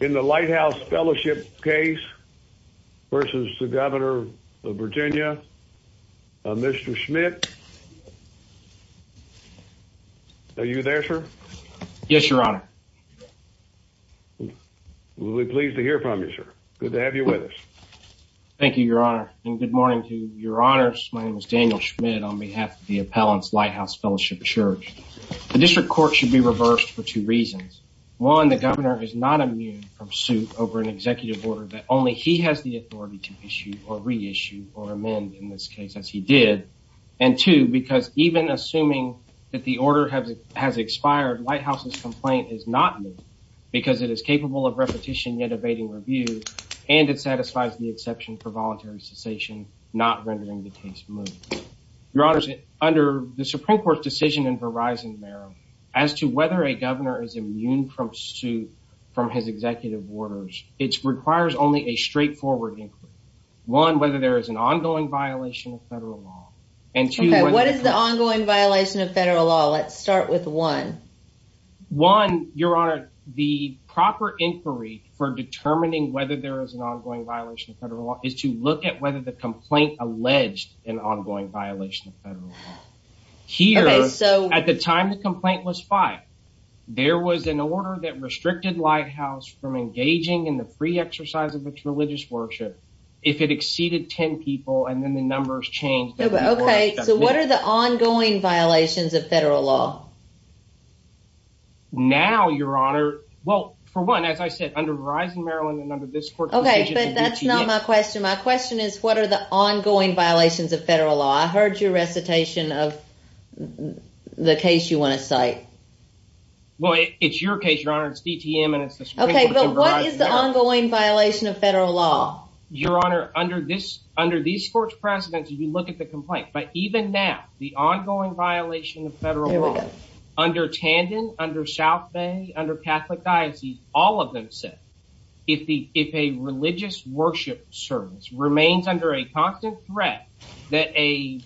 In the Lighthouse Fellowship case versus the governor of Virginia, Mr. Schmidt. Are you there, sir? Yes, your honor. We'll be pleased to hear from you, sir. Good to have you with us. Thank you, your honor. And good morning to your honors. My name is Daniel Schmidt on behalf of the Appellants Lighthouse Fellowship Church. The district court should be reversed for two reasons. One, the governor is not immune from suit over an executive order that only he has the authority to issue or reissue or amend, in this case, as he did. And two, because even assuming that the order has expired, Lighthouse's complaint is not moved because it is capable of repetition, yet evading review, and it satisfies the exception for voluntary cessation, not rendering the case moved. Your honors, under the Supreme Court's decision in Verizon, Maryland, as to whether a governor is immune from suit from his executive orders, it requires only a straightforward inquiry. One, whether there is an ongoing violation of federal law. Okay, what is the ongoing violation of federal law? Let's start with one. One, your honor, the proper inquiry for determining whether there is an ongoing violation of federal law is to look at whether the complaint alleged an ongoing violation of federal law. Here, at the time the complaint was filed, there was an order that restricted Lighthouse from engaging in the free exercise of its religious worship if it exceeded 10 people, and then the numbers changed. Okay, so what are the ongoing violations of federal law? Now, your honor, well, for one, as I said, under Verizon, Maryland, and under this court's decision in DTM. Okay, but that's not my question. My question is, what are the ongoing violations of federal law? I heard your recitation of the case you want to cite. Well, it's your case, your honor. It's DTM, and it's the Supreme Court's in Verizon, Maryland. Okay, but what is the ongoing violation of federal law? Your honor, under these court's precedence, if you look at the complaint, but even now, the ongoing violation of federal law, under Tandon, under South Bay, under Catholic Diocese, all of them said, if a religious worship service remains under a constant threat, that a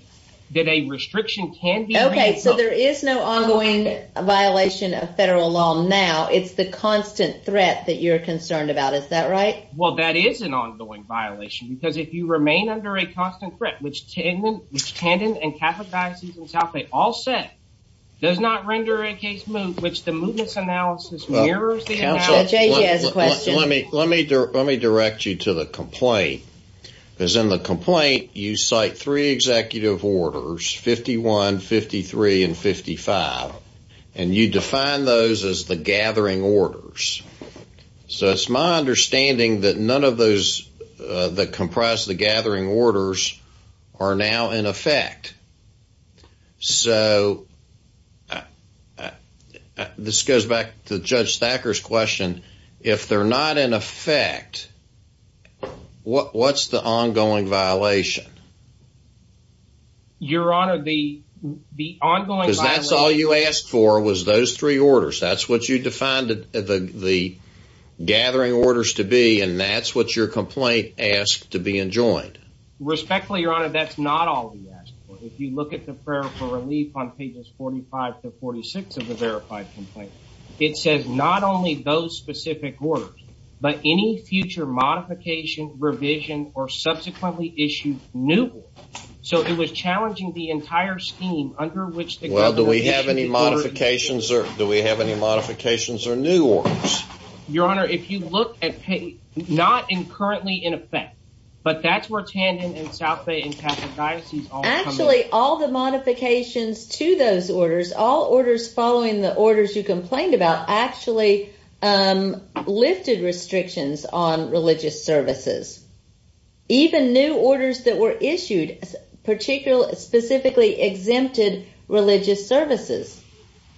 restriction can be removed. Okay, so there is no ongoing violation of federal law now. It's the constant threat that you're concerned about. Is that right? Well, that is an ongoing violation, because if you remain under a constant threat, which Tandon and Catholic Diocese and South Bay all said, does not render a case moot, which the mootness analysis mirrors the analysis. Let me direct you to the complaint, because in the complaint, you cite three executive orders, 51, 53, and 55, and you define those as the gathering orders. So it's my understanding that none of those that comprise the gathering orders are now in effect. So this goes back to Judge Thacker's question. If they're not in effect, what's the ongoing violation? Your Honor, the ongoing violation... Because that's all you asked for, was those three orders. That's what you defined the gathering orders to be, and that's what your complaint asked to be enjoined. Respectfully, Your Honor, that's not all we asked for. If you look at the prayer for relief on pages 45 to 46 of the verified complaint, it says not only those specific orders, but any future modification, revision, or subsequently issued new orders. So it was challenging the entire scheme under which the government issued... Well, do we have any modifications or new orders? Your Honor, if you look at page... Not currently in effect, but that's where Tandon and South Bay and Catholic Diocese... Actually, all the modifications to those orders, all orders following the orders you complained about, actually lifted restrictions on religious services. Even new orders that were issued specifically exempted religious services.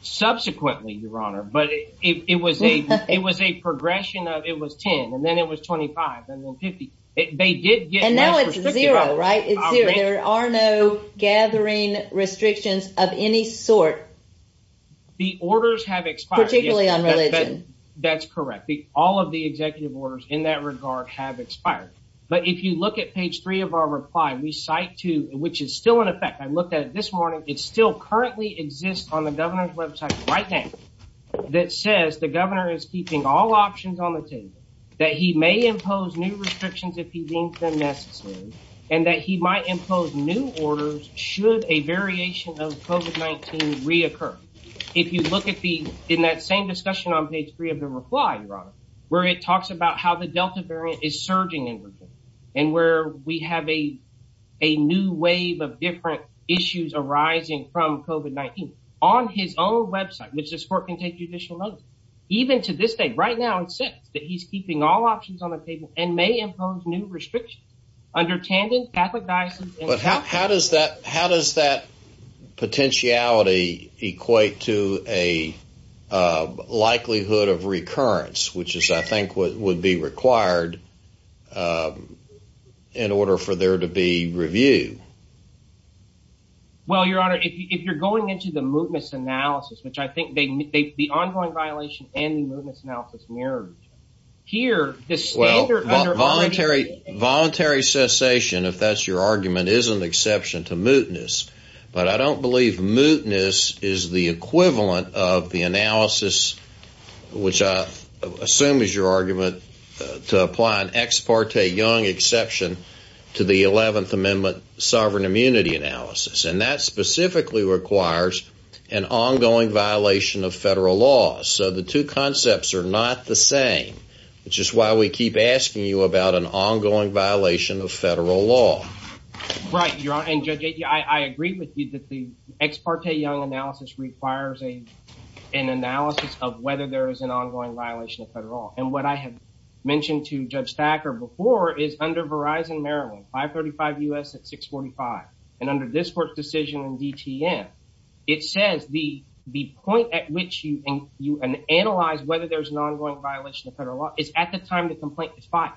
Subsequently, Your Honor, but it was a progression of... It was 10, and then it was 25, and then 50. They did get... And now it's zero, right? It's zero. There are no gathering restrictions of any sort. The orders have expired. Particularly on religion. That's correct. All of the executive orders in that regard have expired. But if you look at page three of our reply, we cite to... Which is still in effect. I looked at it this morning. It still currently exists on the governor's website right now. That says the governor is keeping all options on the table, that he may impose new restrictions if he deems them necessary, and that he might impose new orders should a variation of COVID-19 reoccur. If you look at the... In that same discussion on page three of the reply, Your Honor, where it talks about how the Delta variant is surging in Virginia, and where we have a new wave of different issues arising from COVID-19. On his own website, which this court can take judicial notice, even to this day, right now, it says that he's keeping all options on the table and may impose new restrictions under Tandon, Catholic Diocese, and South Bay. How does that... How does that potentiality equate to a likelihood of recurrence, which is, I think, what would be required in order for there to be review? Well, Your Honor, if you're going into the mootness analysis, which I think they... The ongoing violation and the mootness analysis mirrored each other. Here, the standard under... And that specifically requires an ongoing violation of federal law. So the two concepts are not the same, which is why we keep asking you about an ongoing violation of federal law. Right, Your Honor. And, Judge Akia, I agree with you that the ex parte Young analysis requires an analysis of whether there is an ongoing violation of federal law. And what I have mentioned to Judge Thacker before is under Verizon Maryland, 535 U.S. at 645, and under this court's decision in DTM, it says the point at which you analyze whether there's an ongoing violation of federal law is at the time the complaint is filed.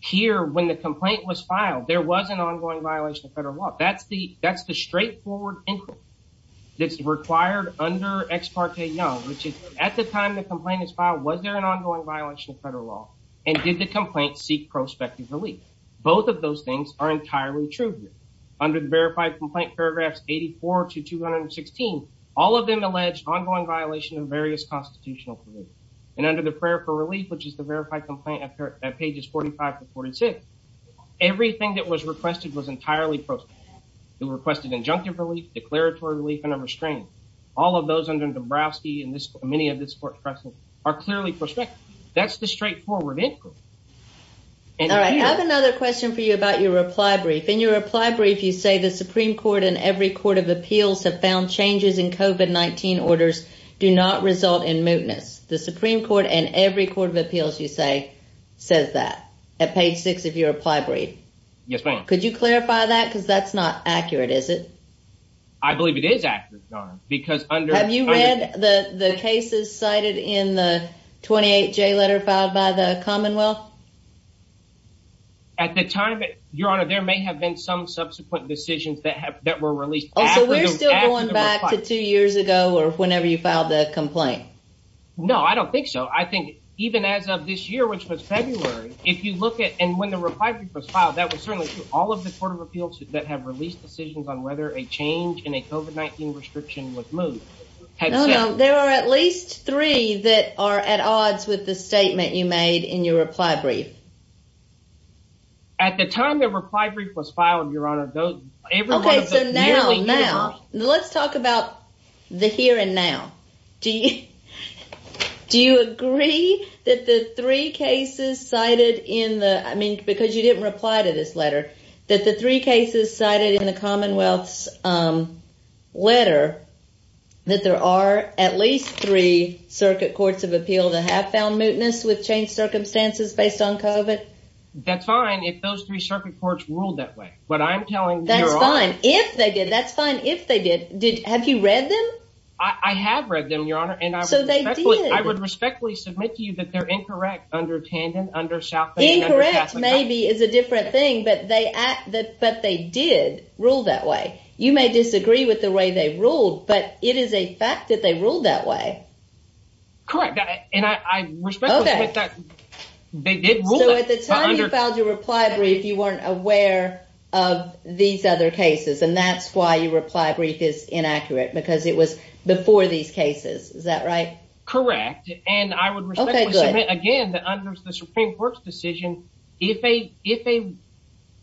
Here, when the complaint was filed, there was an ongoing violation of federal law. That's the straightforward inquiry that's required under ex parte Young, which is, at the time the complaint is filed, was there an ongoing violation of federal law? And did the complaint seek prospective relief? Both of those things are entirely true here. Under the verified complaint paragraphs 84 to 216, all of them allege ongoing violation of various constitutional provisions. And under the prayer for relief, which is the verified complaint at pages 45 to 46, everything that was requested was entirely prospective. It requested injunctive relief, declaratory relief, and a restraint. All of those under Dombrowski and many of this court's precedents are clearly prospective. That's the straightforward inquiry. All right. I have another question for you about your reply brief. In your reply brief, you say the Supreme Court and every court of appeals have found changes in COVID-19 orders do not result in mootness. The Supreme Court and every court of appeals, you say, says that at page six of your reply brief. Yes, ma'am. Could you clarify that? Because that's not accurate, is it? I believe it is accurate, Your Honor, because under… Have you read the cases cited in the 28J letter filed by the Commonwealth? At the time, Your Honor, there may have been some subsequent decisions that were released after the reply brief. Oh, so we're still going back to two years ago or whenever you filed the complaint? No, I don't think so. I think even as of this year, which was February, if you look at… And when the reply brief was filed, that was certainly true. All of the court of appeals that have released decisions on whether a change in a COVID-19 restriction was moot had said… No, no. There are at least three that are at odds with the statement you made in your reply brief. At the time the reply brief was filed, Your Honor, those… Okay, so now, now, let's talk about the here and now. Do you agree that the three cases cited in the… I mean, because you didn't reply to this letter, that the three cases cited in the Commonwealth's letter, that there are at least three circuit courts of appeal that have found mootness with changed circumstances based on COVID? That's fine if those three circuit courts ruled that way, but I'm telling Your Honor… That's fine if they did. That's fine if they did. Have you read them? I have read them, Your Honor, and I respectfully… So, they did. I would respectfully submit to you that they're incorrect under Tandon, under South Bay, and under… Incorrect maybe is a different thing, but they did rule that way. You may disagree with the way they ruled, but it is a fact that they ruled that way. Correct, and I respectfully submit that they did rule that. So, at the time you filed your reply brief, you weren't aware of these other cases, and that's why your reply brief is inaccurate, because it was before these cases. Is that right? Correct, and I would respectfully submit again that under the Supreme Court's decision, if a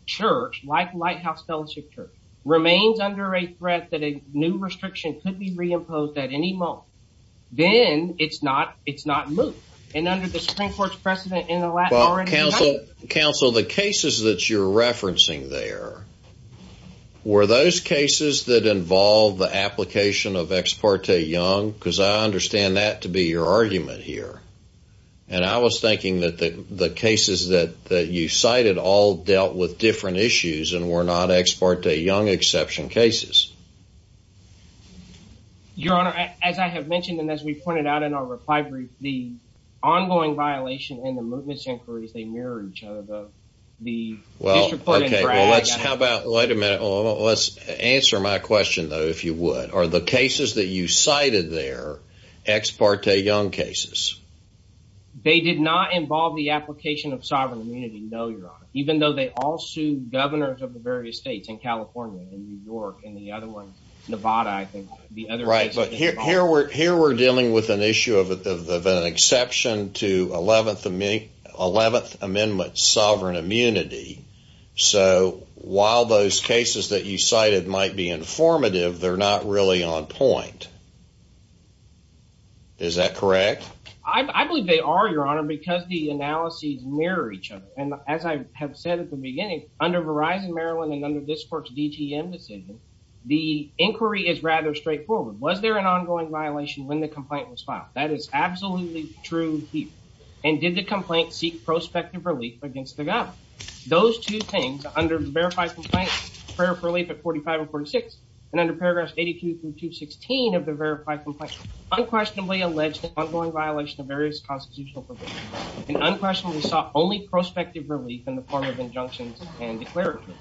church, like Lighthouse Fellowship Church, remains under a threat that a new restriction could be reimposed at any moment, then it's not moot. And under the Supreme Court's precedent in the… Counsel, the cases that you're referencing there, were those cases that involved the application of Ex parte Young? Because I understand that to be your argument here. And I was thinking that the cases that you cited all dealt with different issues and were not Ex parte Young exception cases. Your Honor, as I have mentioned and as we pointed out in our reply brief, the ongoing violation and the mootness inquiries, they mirror each other. Well, okay, well let's, how about, wait a minute, let's answer my question, though, if you would. Are the cases that you cited there Ex parte Young cases? They did not involve the application of sovereign immunity, no, Your Honor, even though they all sued governors of the various states in California and New York and the other one, Nevada, I think. Right, but here we're dealing with an issue of an exception to 11th Amendment sovereign immunity, so while those cases that you cited might be informative, they're not really on point. Is that correct? I believe they are, Your Honor, because the analyses mirror each other, and as I have said at the beginning, under Verizon Maryland and under this court's DTM decision, the inquiry is rather straightforward. Was there an ongoing violation when the complaint was filed? That is absolutely true here. And did the complaint seek prospective relief against the governor? Those two things, under the verified complaint, prayer for relief at 45 or 46, and under paragraphs 82 through 216 of the verified complaint, unquestionably alleged an ongoing violation of various constitutional provisions, and unquestionably sought only prospective relief in the form of injunctions and declaratory.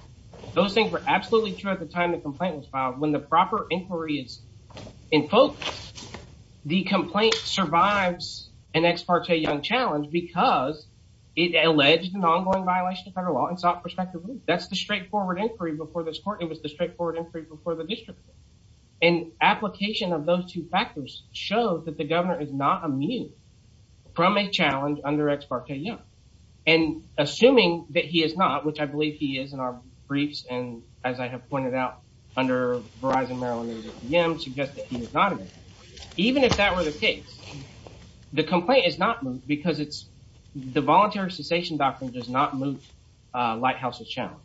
Those things were absolutely true at the time the complaint was filed. When the proper inquiry is in focus, the complaint survives an ex parte young challenge because it alleged an ongoing violation of federal law and sought prospective relief. That's the straightforward inquiry before this court. It was the straightforward inquiry before the district court. And application of those two factors shows that the governor is not immune from a challenge under ex parte young. And assuming that he is not, which I believe he is in our briefs, and as I have pointed out under Verizon Maryland and DTM suggests that he is not immune, even if that were the case, the complaint is not moved because the voluntary cessation doctrine does not move Lighthouse's challenge.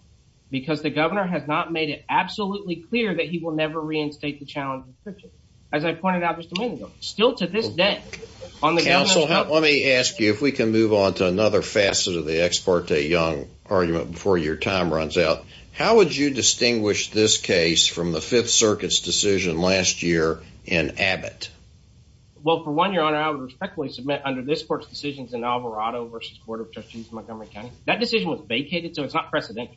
Because the governor has not made it absolutely clear that he will never reinstate the challenge. As I pointed out just a minute ago, still to this day on the council, let me ask you if we can move on to another facet of the ex parte young argument before your time runs out. How would you distinguish this case from the Fifth Circuit's decision last year in Abbott? Well, for one, your honor, I would respectfully submit under this court's decisions in Alvarado versus Court of Trustees Montgomery County, that decision was vacated, so it's not precedent.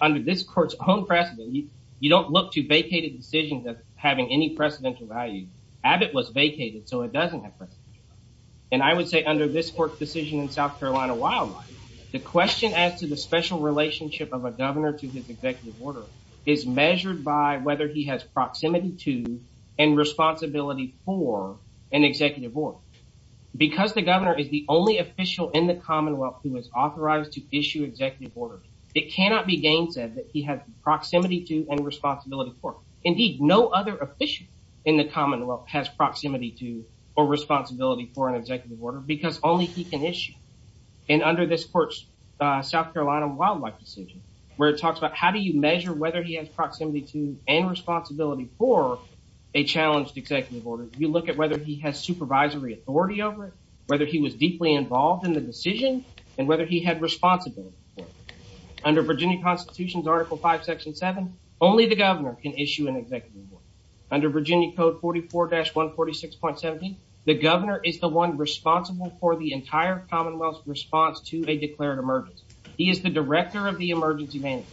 Under this court's own precedent, you don't look to vacated decisions as having any precedential value. Abbott was vacated, so it doesn't have precedential value. And I would say under this court's decision in South Carolina Wildlife, the question as to the special relationship of a governor to his executive order is measured by whether he has proximity to and responsibility for an executive order. Because the governor is the only official in the Commonwealth who is authorized to issue executive orders, it cannot be gainsaid that he has proximity to and responsibility for. Indeed, no other official in the Commonwealth has proximity to or responsibility for an executive order because only he can issue. And under this court's South Carolina Wildlife decision, where it talks about how do you measure whether he has proximity to and responsibility for a challenged executive order, you look at whether he has supervisory authority over it, whether he was deeply involved in the decision, and whether he had responsibility for it. Under Virginia Constitution's Article 5, Section 7, only the governor can issue an executive order. Under Virginia Code 44-146.17, the governor is the one responsible for the entire Commonwealth's response to a declared emergency. He is the director of the emergency management.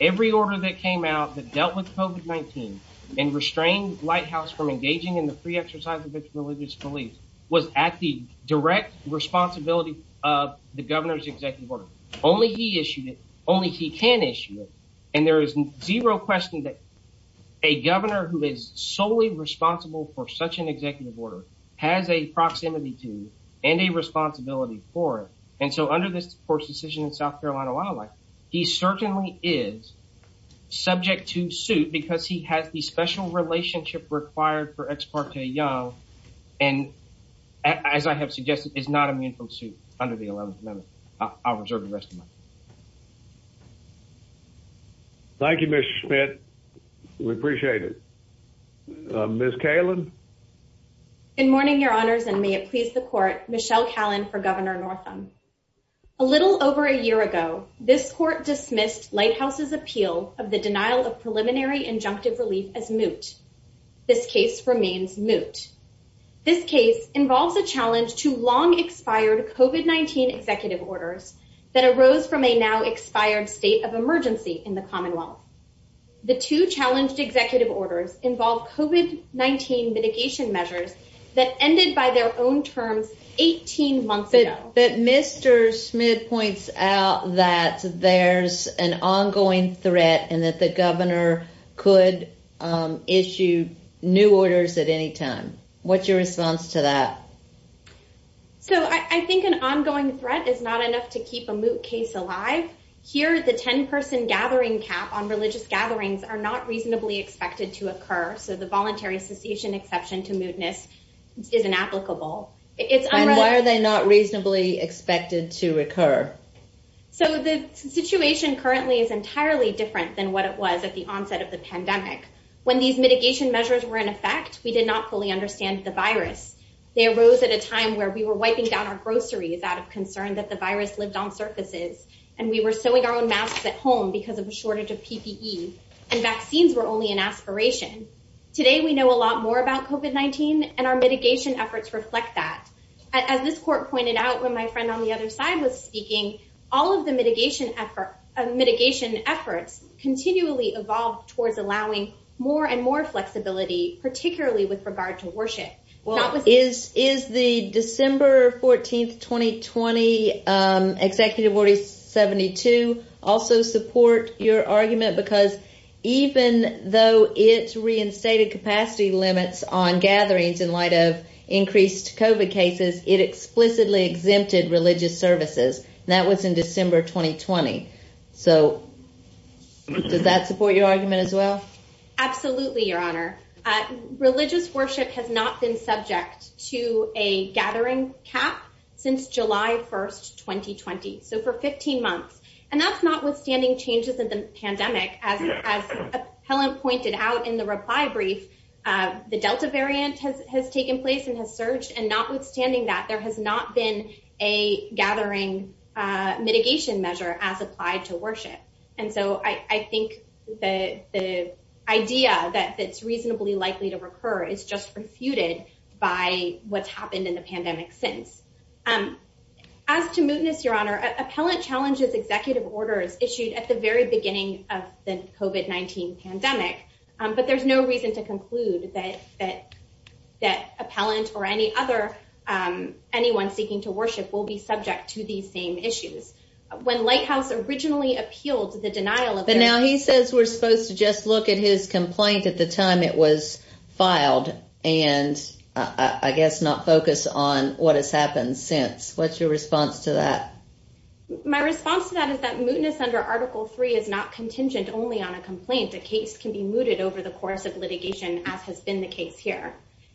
Every order that came out that dealt with COVID-19 and restrained Lighthouse from engaging in the free exercise of its religious beliefs was at the direct responsibility of the governor's executive order. Only he issued it. Only he can issue it. And there is zero question that a governor who is solely responsible for such an executive order has a proximity to and a responsibility for it. And so under this court's decision in South Carolina Wildlife, he certainly is subject to suit because he has the special relationship required for Ex parte Young and, as I have suggested, is not immune from suit under the 11th Amendment. I'll reserve the rest of my time. Thank you, Mr. Schmidt. We appreciate it. Ms. Kalin? Good morning, Your Honors, and may it please the Court, Michelle Kalin for Governor Northam. A little over a year ago, this court dismissed Lighthouse's appeal of the denial of preliminary injunctive relief as moot. This case remains moot. This case involves a challenge to long-expired COVID-19 executive orders that arose from a now-expired state of emergency in the Commonwealth. The two challenged executive orders involved COVID-19 mitigation measures that ended by their own terms 18 months ago. But Mr. Schmidt points out that there's an ongoing threat and that the governor could issue new orders at any time. What's your response to that? So I think an ongoing threat is not enough to keep a moot case alive. Here, the 10-person gathering cap on religious gatherings are not reasonably expected to occur, so the voluntary cessation exception to mootness is inapplicable. And why are they not reasonably expected to occur? So the situation currently is entirely different than what it was at the onset of the pandemic. When these mitigation measures were in effect, we did not fully understand the virus. They arose at a time where we were wiping down our groceries out of concern that the virus lived on surfaces, and we were sewing our own masks at home because of a shortage of PPE, and vaccines were only an aspiration. Today, we know a lot more about COVID-19, and our mitigation efforts reflect that. As this court pointed out when my friend on the other side was speaking, all of the mitigation efforts continually evolved towards allowing more and more flexibility, particularly with regard to worship. Well, is the December 14th, 2020 Executive Order 72 also support your argument? Because even though it's reinstated capacity limits on gatherings in light of increased COVID cases, it explicitly exempted religious services. That was in December 2020. So does that support your argument as well? Absolutely, Your Honor. Religious worship has not been subject to a gathering cap since July 1st, 2020. So for 15 months. And that's notwithstanding changes in the pandemic. As Helen pointed out in the reply brief, the Delta variant has taken place and has surged, and notwithstanding that, there has not been a gathering mitigation measure as applied to worship. And so I think the idea that it's reasonably likely to recur is just refuted by what's happened in the pandemic since. As to mootness, Your Honor, Appellant challenges executive orders issued at the very beginning of the COVID-19 pandemic. But there's no reason to conclude that that that appellant or any other anyone seeking to worship will be subject to these same issues. When Lighthouse originally appealed to the denial. But now he says we're supposed to just look at his complaint at the time it was filed. And I guess not focus on what has happened since. What's your response to that? My response to that is that mootness under Article 3 is not contingent only on a complaint. The case can be mooted over the course of litigation, as has been the case here.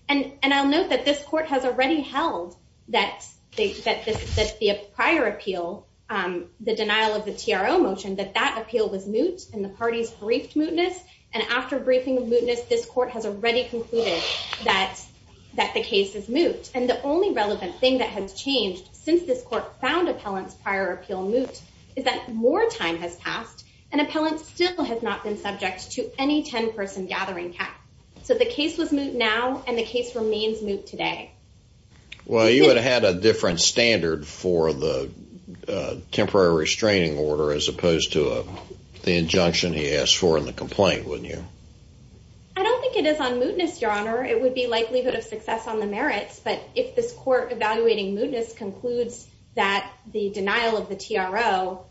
And I'll note that this court has already held that prior appeal, the denial of the TRO motion, that that appeal was moot and the parties briefed mootness. And after briefing of mootness, this court has already concluded that that the case is moot. And the only relevant thing that has changed since this court found appellants prior appeal moot is that more time has passed and appellants still have not been subject to any 10 person gathering cap. So the case was moot now and the case remains moot today. Well, you would have had a different standard for the temporary restraining order as opposed to the injunction he asked for in the complaint, wouldn't you? I don't think it is on mootness, Your Honor. It would be likelihood of success on the merits. But if this court evaluating mootness concludes that the denial of the TRO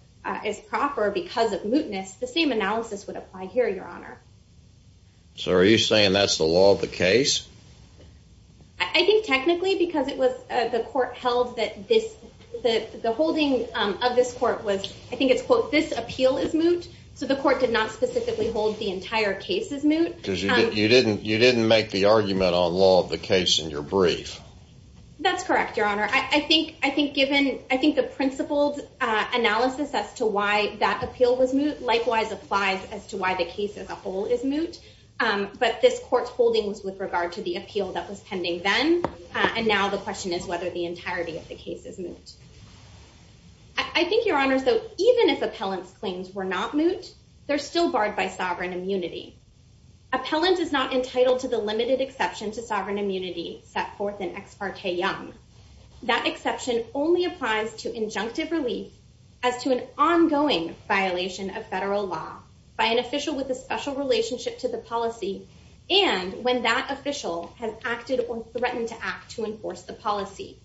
is proper because of mootness, the same analysis would apply here, Your Honor. So are you saying that's the law of the case? I think technically, because it was the court held that this that the holding of this court was, I think it's quote, this appeal is moot. So the court did not specifically hold the entire case is moot. You didn't you didn't make the argument on law of the case in your brief. That's correct, Your Honor. I think I think given I think the principled analysis as to why that appeal was moot, likewise applies as to why the case as a whole is moot. But this court's holding was with regard to the appeal that was pending then. And now the question is whether the entirety of the case is moot. I think, Your Honor, so even if appellant's claims were not moot, they're still barred by sovereign immunity. Appellant is not entitled to the limited exception to sovereign immunity set forth in Ex parte Young. That exception only applies to injunctive relief as to an ongoing violation of federal law by an official with a special relationship to the policy. And when that official has acted or threatened to act to enforce the policy,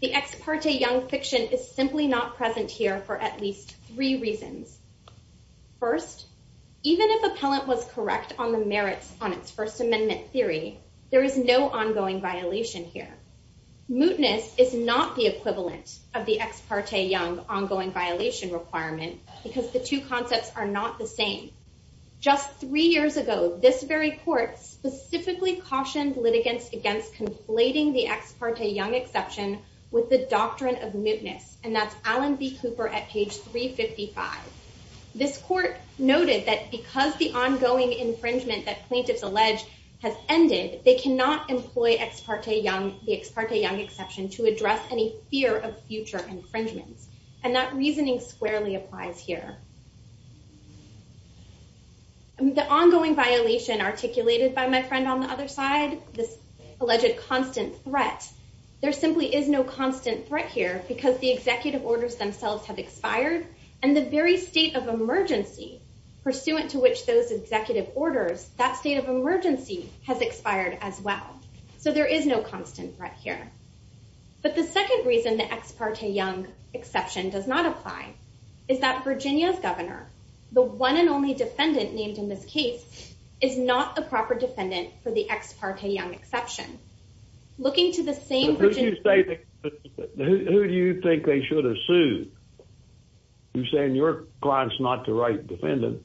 the Ex parte Young fiction is simply not present here for at least three reasons. First, even if appellant was correct on the merits on its First Amendment theory, there is no ongoing violation here. Mootness is not the equivalent of the Ex parte Young ongoing violation requirement because the two concepts are not the same. Just three years ago, this very court specifically cautioned litigants against conflating the Ex parte Young exception with the doctrine of mootness. And that's Alan B. Cooper at page 355. This court noted that because the ongoing infringement that plaintiffs allege has ended, they cannot employ Ex parte Young, the Ex parte Young exception to address any fear of future infringements. And that reasoning squarely applies here. The ongoing violation articulated by my friend on the other side, this alleged constant threat, there simply is no constant threat here because the executive orders themselves have expired. And the very state of emergency pursuant to which those executive orders, that state of emergency has expired as well. So there is no constant threat here. But the second reason the Ex parte Young exception does not apply is that Virginia's governor, the one and only defendant named in this case, is not the proper defendant for the Ex parte Young exception. Looking to the same... Who do you think they should have sued? You're saying your client's not the right defendant.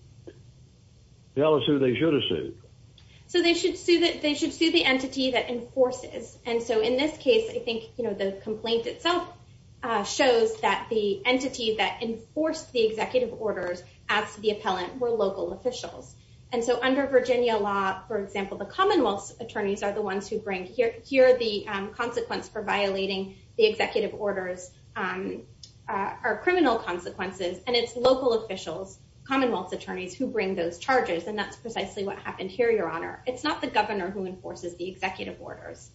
Tell us who they should have sued. So they should sue the entity that enforces. And so in this case, I think the complaint itself shows that the entity that enforced the executive orders as the appellant were local officials. And so under Virginia law, for example, the Commonwealth's attorneys are the ones who bring... It's not the governor who enforces the executive orders.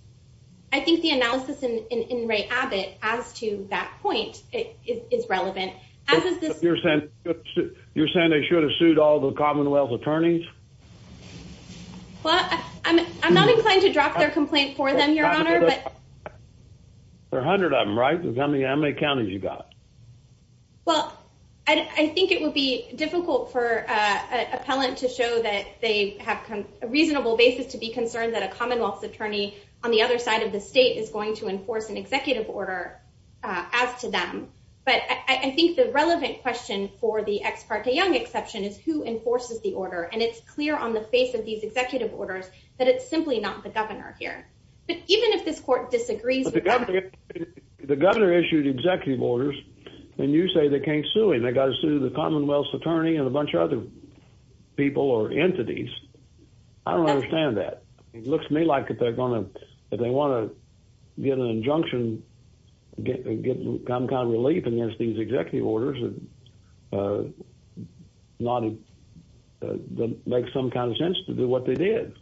I think the analysis in Ray Abbott as to that point is relevant, as is this... You're saying they should have sued all the Commonwealth's attorneys? Well, I'm not inclined to drop their complaint for them, Your Honor, but... There are 100 of them, right? How many counties you got? Well, I think it would be difficult for an appellant to show that they have a reasonable basis to be concerned that a Commonwealth's attorney on the other side of the state is going to enforce an executive order as to them. But I think the relevant question for the Ex parte Young exception is who enforces the order. And it's clear on the face of these executive orders that it's simply not the governor here. But even if this court disagrees with that... But the governor issued executive orders, and you say they can't sue him. They got to sue the Commonwealth's attorney and a bunch of other people or entities. I don't understand that. It looks to me like if they want to get an injunction, get some kind of relief against these executive orders, it doesn't make some kind of sense to do what they did.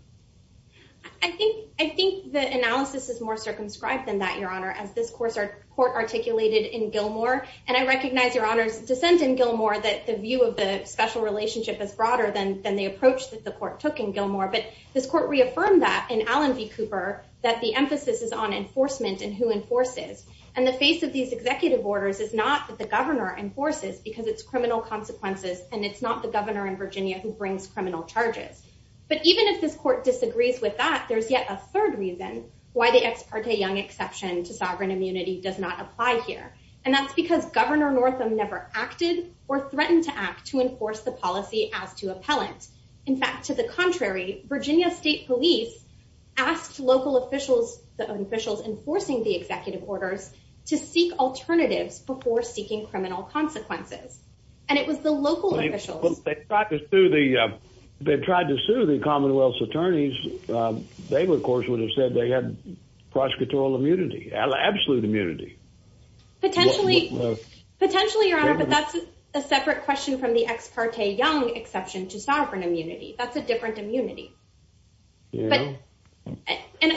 I think the analysis is more circumscribed than that, Your Honor, as this court articulated in Gilmore. And I recognize Your Honor's dissent in Gilmore that the view of the special relationship is broader than the approach that the court took in Gilmore. But this court reaffirmed that in Allen v. Cooper that the emphasis is on enforcement and who enforces. And the face of these executive orders is not that the governor enforces because it's criminal consequences, and it's not the governor in Virginia who brings criminal charges. But even if this court disagrees with that, there's yet a third reason why the Ex parte Young exception to sovereign immunity does not apply here. And that's because Governor Northam never acted or threatened to act to enforce the policy as to appellant. In fact, to the contrary, Virginia State Police asked local officials, the officials enforcing the executive orders, to seek alternatives before seeking criminal consequences. And it was the local officials. They tried to sue the Commonwealth's attorneys. They, of course, would have said they had prosecutorial immunity, absolute immunity. Potentially, Your Honor, but that's a separate question from the Ex parte Young exception to sovereign immunity. That's a different immunity. And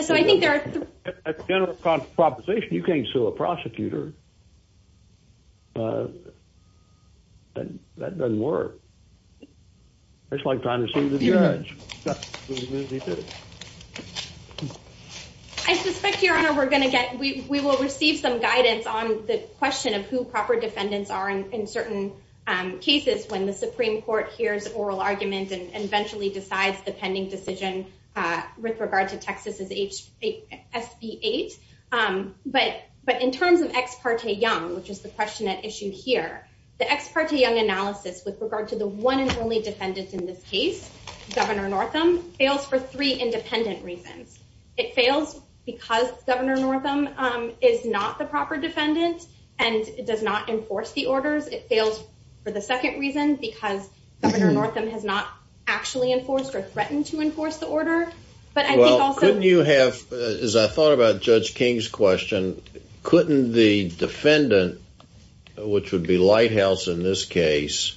so I think there is a general proposition. You can't sue a prosecutor. That doesn't work. It's like trying to sue the judge. I suspect, Your Honor, we're going to get we will receive some guidance on the question of who proper defendants are in certain cases when the Supreme Court hears oral argument and eventually decides the pending decision with regard to Texas's SB8. But in terms of Ex parte Young, which is the question at issue here, the Ex parte Young analysis with regard to the one and only defendant in this case, Governor Northam, fails for three independent reasons. It fails because Governor Northam is not the proper defendant and does not enforce the orders. It fails for the second reason because Governor Northam has not actually enforced or threatened to enforce the order. Well, couldn't you have, as I thought about Judge King's question, couldn't the defendant, which would be Lighthouse in this case,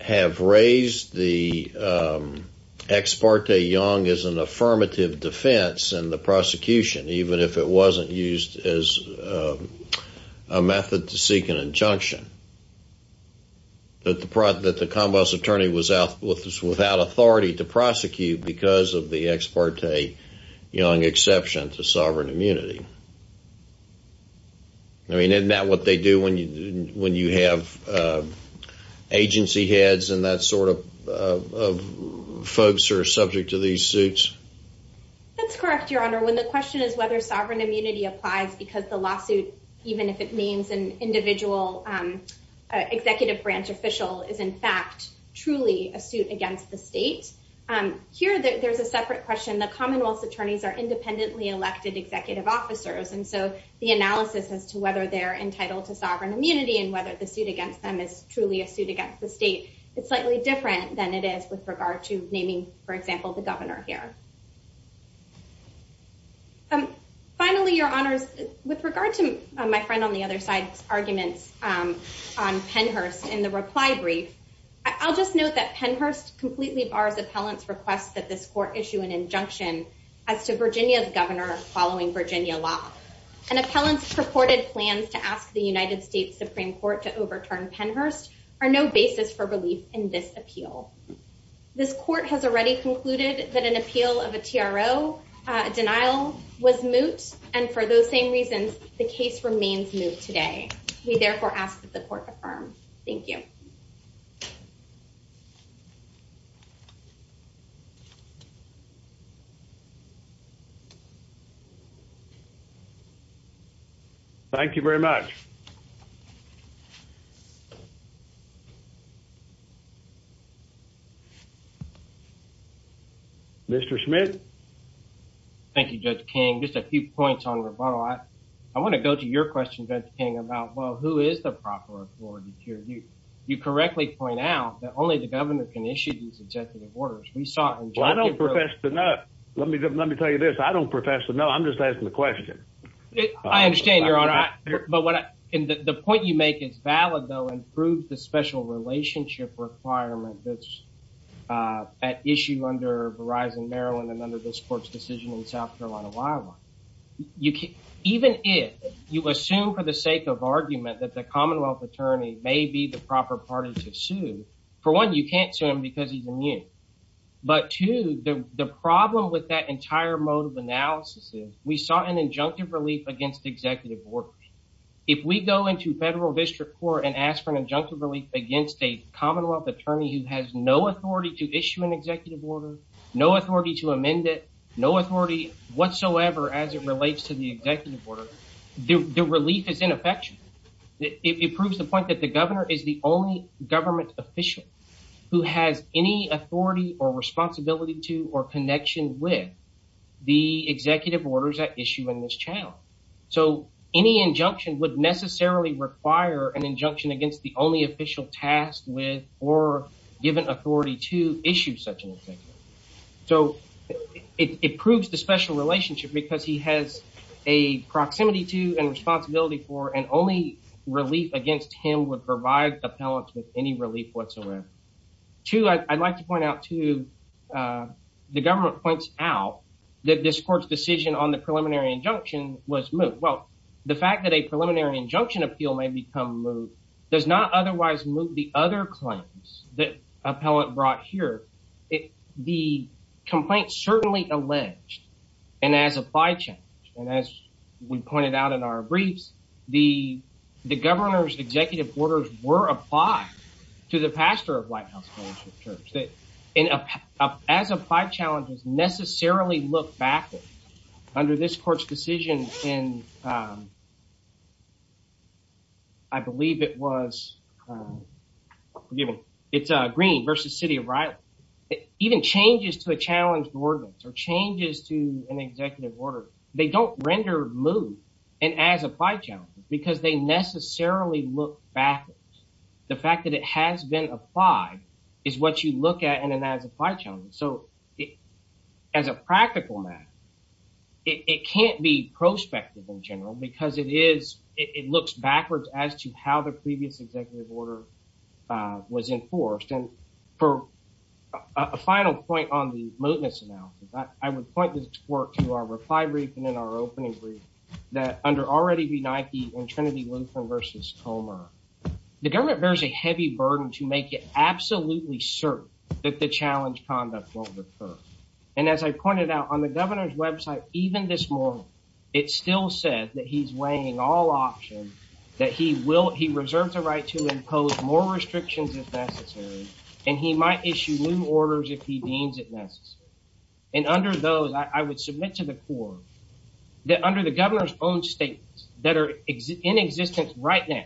have raised the Ex parte Young as an affirmative defense in the prosecution, even if it wasn't used as a method to seek an injunction? That the Convos attorney was without authority to prosecute because of the Ex parte Young exception to sovereign immunity? I mean, isn't that what they do when you have agency heads and that sort of folks who are subject to these suits? That's correct, Your Honor. When the question is whether sovereign immunity applies because the lawsuit, even if it means an individual executive branch official, is in fact truly a suit against the state. Here, there's a separate question. The Commonwealth's attorneys are independently elected executive officers, and so the analysis as to whether they're entitled to sovereign immunity and whether the suit against them is truly a suit against the state is slightly different than it is with regard to naming, for example, the governor here. Finally, Your Honors, with regard to my friend on the other side's arguments on Pennhurst in the reply brief, I'll just note that Pennhurst completely bars appellants' request that this court issue an injunction as to Virginia's governor following Virginia law. An appellant's purported plans to ask the United States Supreme Court to overturn Pennhurst are no basis for relief in this appeal. This court has already concluded that an appeal of a TRO denial was moot, and for those same reasons, the case remains moot today. We therefore ask that the court affirm. Thank you. Thank you very much. Mr. Schmidt? Thank you, Judge King. Just a few points on rebuttal. I want to go to your question, Judge King, about, well, who is the proper authority here? You correctly point out that only the governor can issue these executive orders. We saw in Judge King's... Well, I don't profess to know. Let me tell you this. I don't profess to know. I'm just asking the question. I understand, Your Honor. But the point you make is valid, though, and proves the special relationship requirement that's at issue under Verizon Maryland and under this court's decision in South Carolina, Wyoming. Even if you assume for the sake of argument that the Commonwealth attorney may be the proper party to sue, for one, you can't sue him because he's immune. But two, the problem with that entire mode of analysis is we saw an injunctive relief against executive orders. If we go into federal district court and ask for an injunctive relief against a Commonwealth attorney who has no authority to issue an executive order, no authority to amend it, no authority whatsoever as it relates to the executive order, the relief is ineffectual. It proves the point that the governor is the only government official who has any authority or responsibility to or connection with the executive orders at issue in this channel. So any injunction would necessarily require an injunction against the only official tasked with or given authority to issue such an executive order. So it proves the special relationship because he has a proximity to and responsibility for, and only relief against him would provide appellants with any relief whatsoever. Two, I'd like to point out too, the government points out that this court's decision on the preliminary injunction was moved. Well, the fact that a preliminary injunction appeal may become moved does not otherwise move the other claims that appellant brought here. The complaint certainly alleged, and as applied challenge, and as we pointed out in our briefs, the governor's executive orders were applied to the pastor of White House Fellowship Church. As applied challenges necessarily look backwards under this court's decision in, I believe it was, it's Green versus City of Riley. Even changes to a challenge ordinance or changes to an executive order, they don't render moved, and as applied challenges, because they necessarily look backwards. The fact that it has been applied is what you look at, and then as applied challenges. So as a practical matter, it can't be prospective in general because it is, it looks backwards as to how the previous executive order was enforced. And for a final point on the mootness analysis, I would point this court to our reply brief and in our opening brief that under already benighted in Trinity Lutheran versus Comer. The government bears a heavy burden to make it absolutely certain that the challenge conduct won't recur. And as I pointed out on the governor's website, even this morning, it still said that he's weighing all options, that he will, he reserves the right to impose more restrictions if necessary, and he might issue new orders if he deems it necessary. And under those, I would submit to the court that under the governor's own statements that are in existence right now,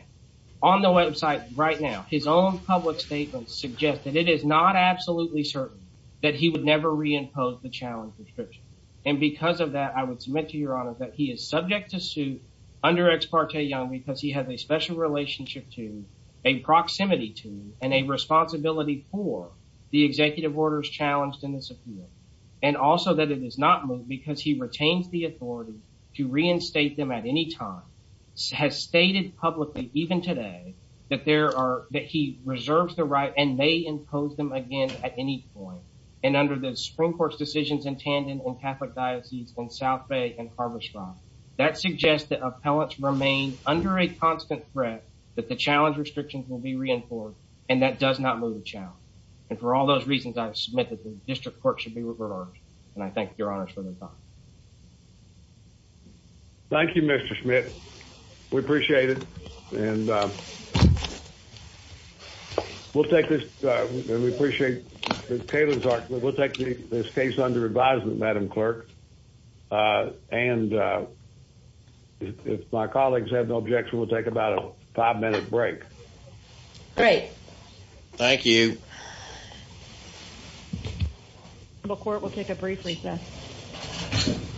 on the website right now, his own public statements suggest that it is not absolutely certain that he would never reimpose the challenge prescription. And because of that, I would submit to your honor that he is subject to suit under ex parte young because he has a special relationship to a proximity to and a responsibility for the executive orders challenged in this appeal. And also that it is not moved because he retains the authority to reinstate them at any time, has stated publicly even today that there are, that he reserves the right and may impose them again at any point. And under the Supreme Court's decisions in Tandon and Catholic Diocese and South Bay and Harborside, that suggests that appellants remain under a constant threat that the challenge restrictions will be reinforced, and that does not move the challenge. And for all those reasons, I submit that the district court should be reversed, and I thank your honor for the time. Thank you, Mr. Schmidt. We appreciate it. And we'll take this. We appreciate Taylor's argument. We'll take this case under advisement, Madam Clerk. And if my colleagues have no objection, we'll take about a five minute break. Great. Thank you. The court will take a brief recess.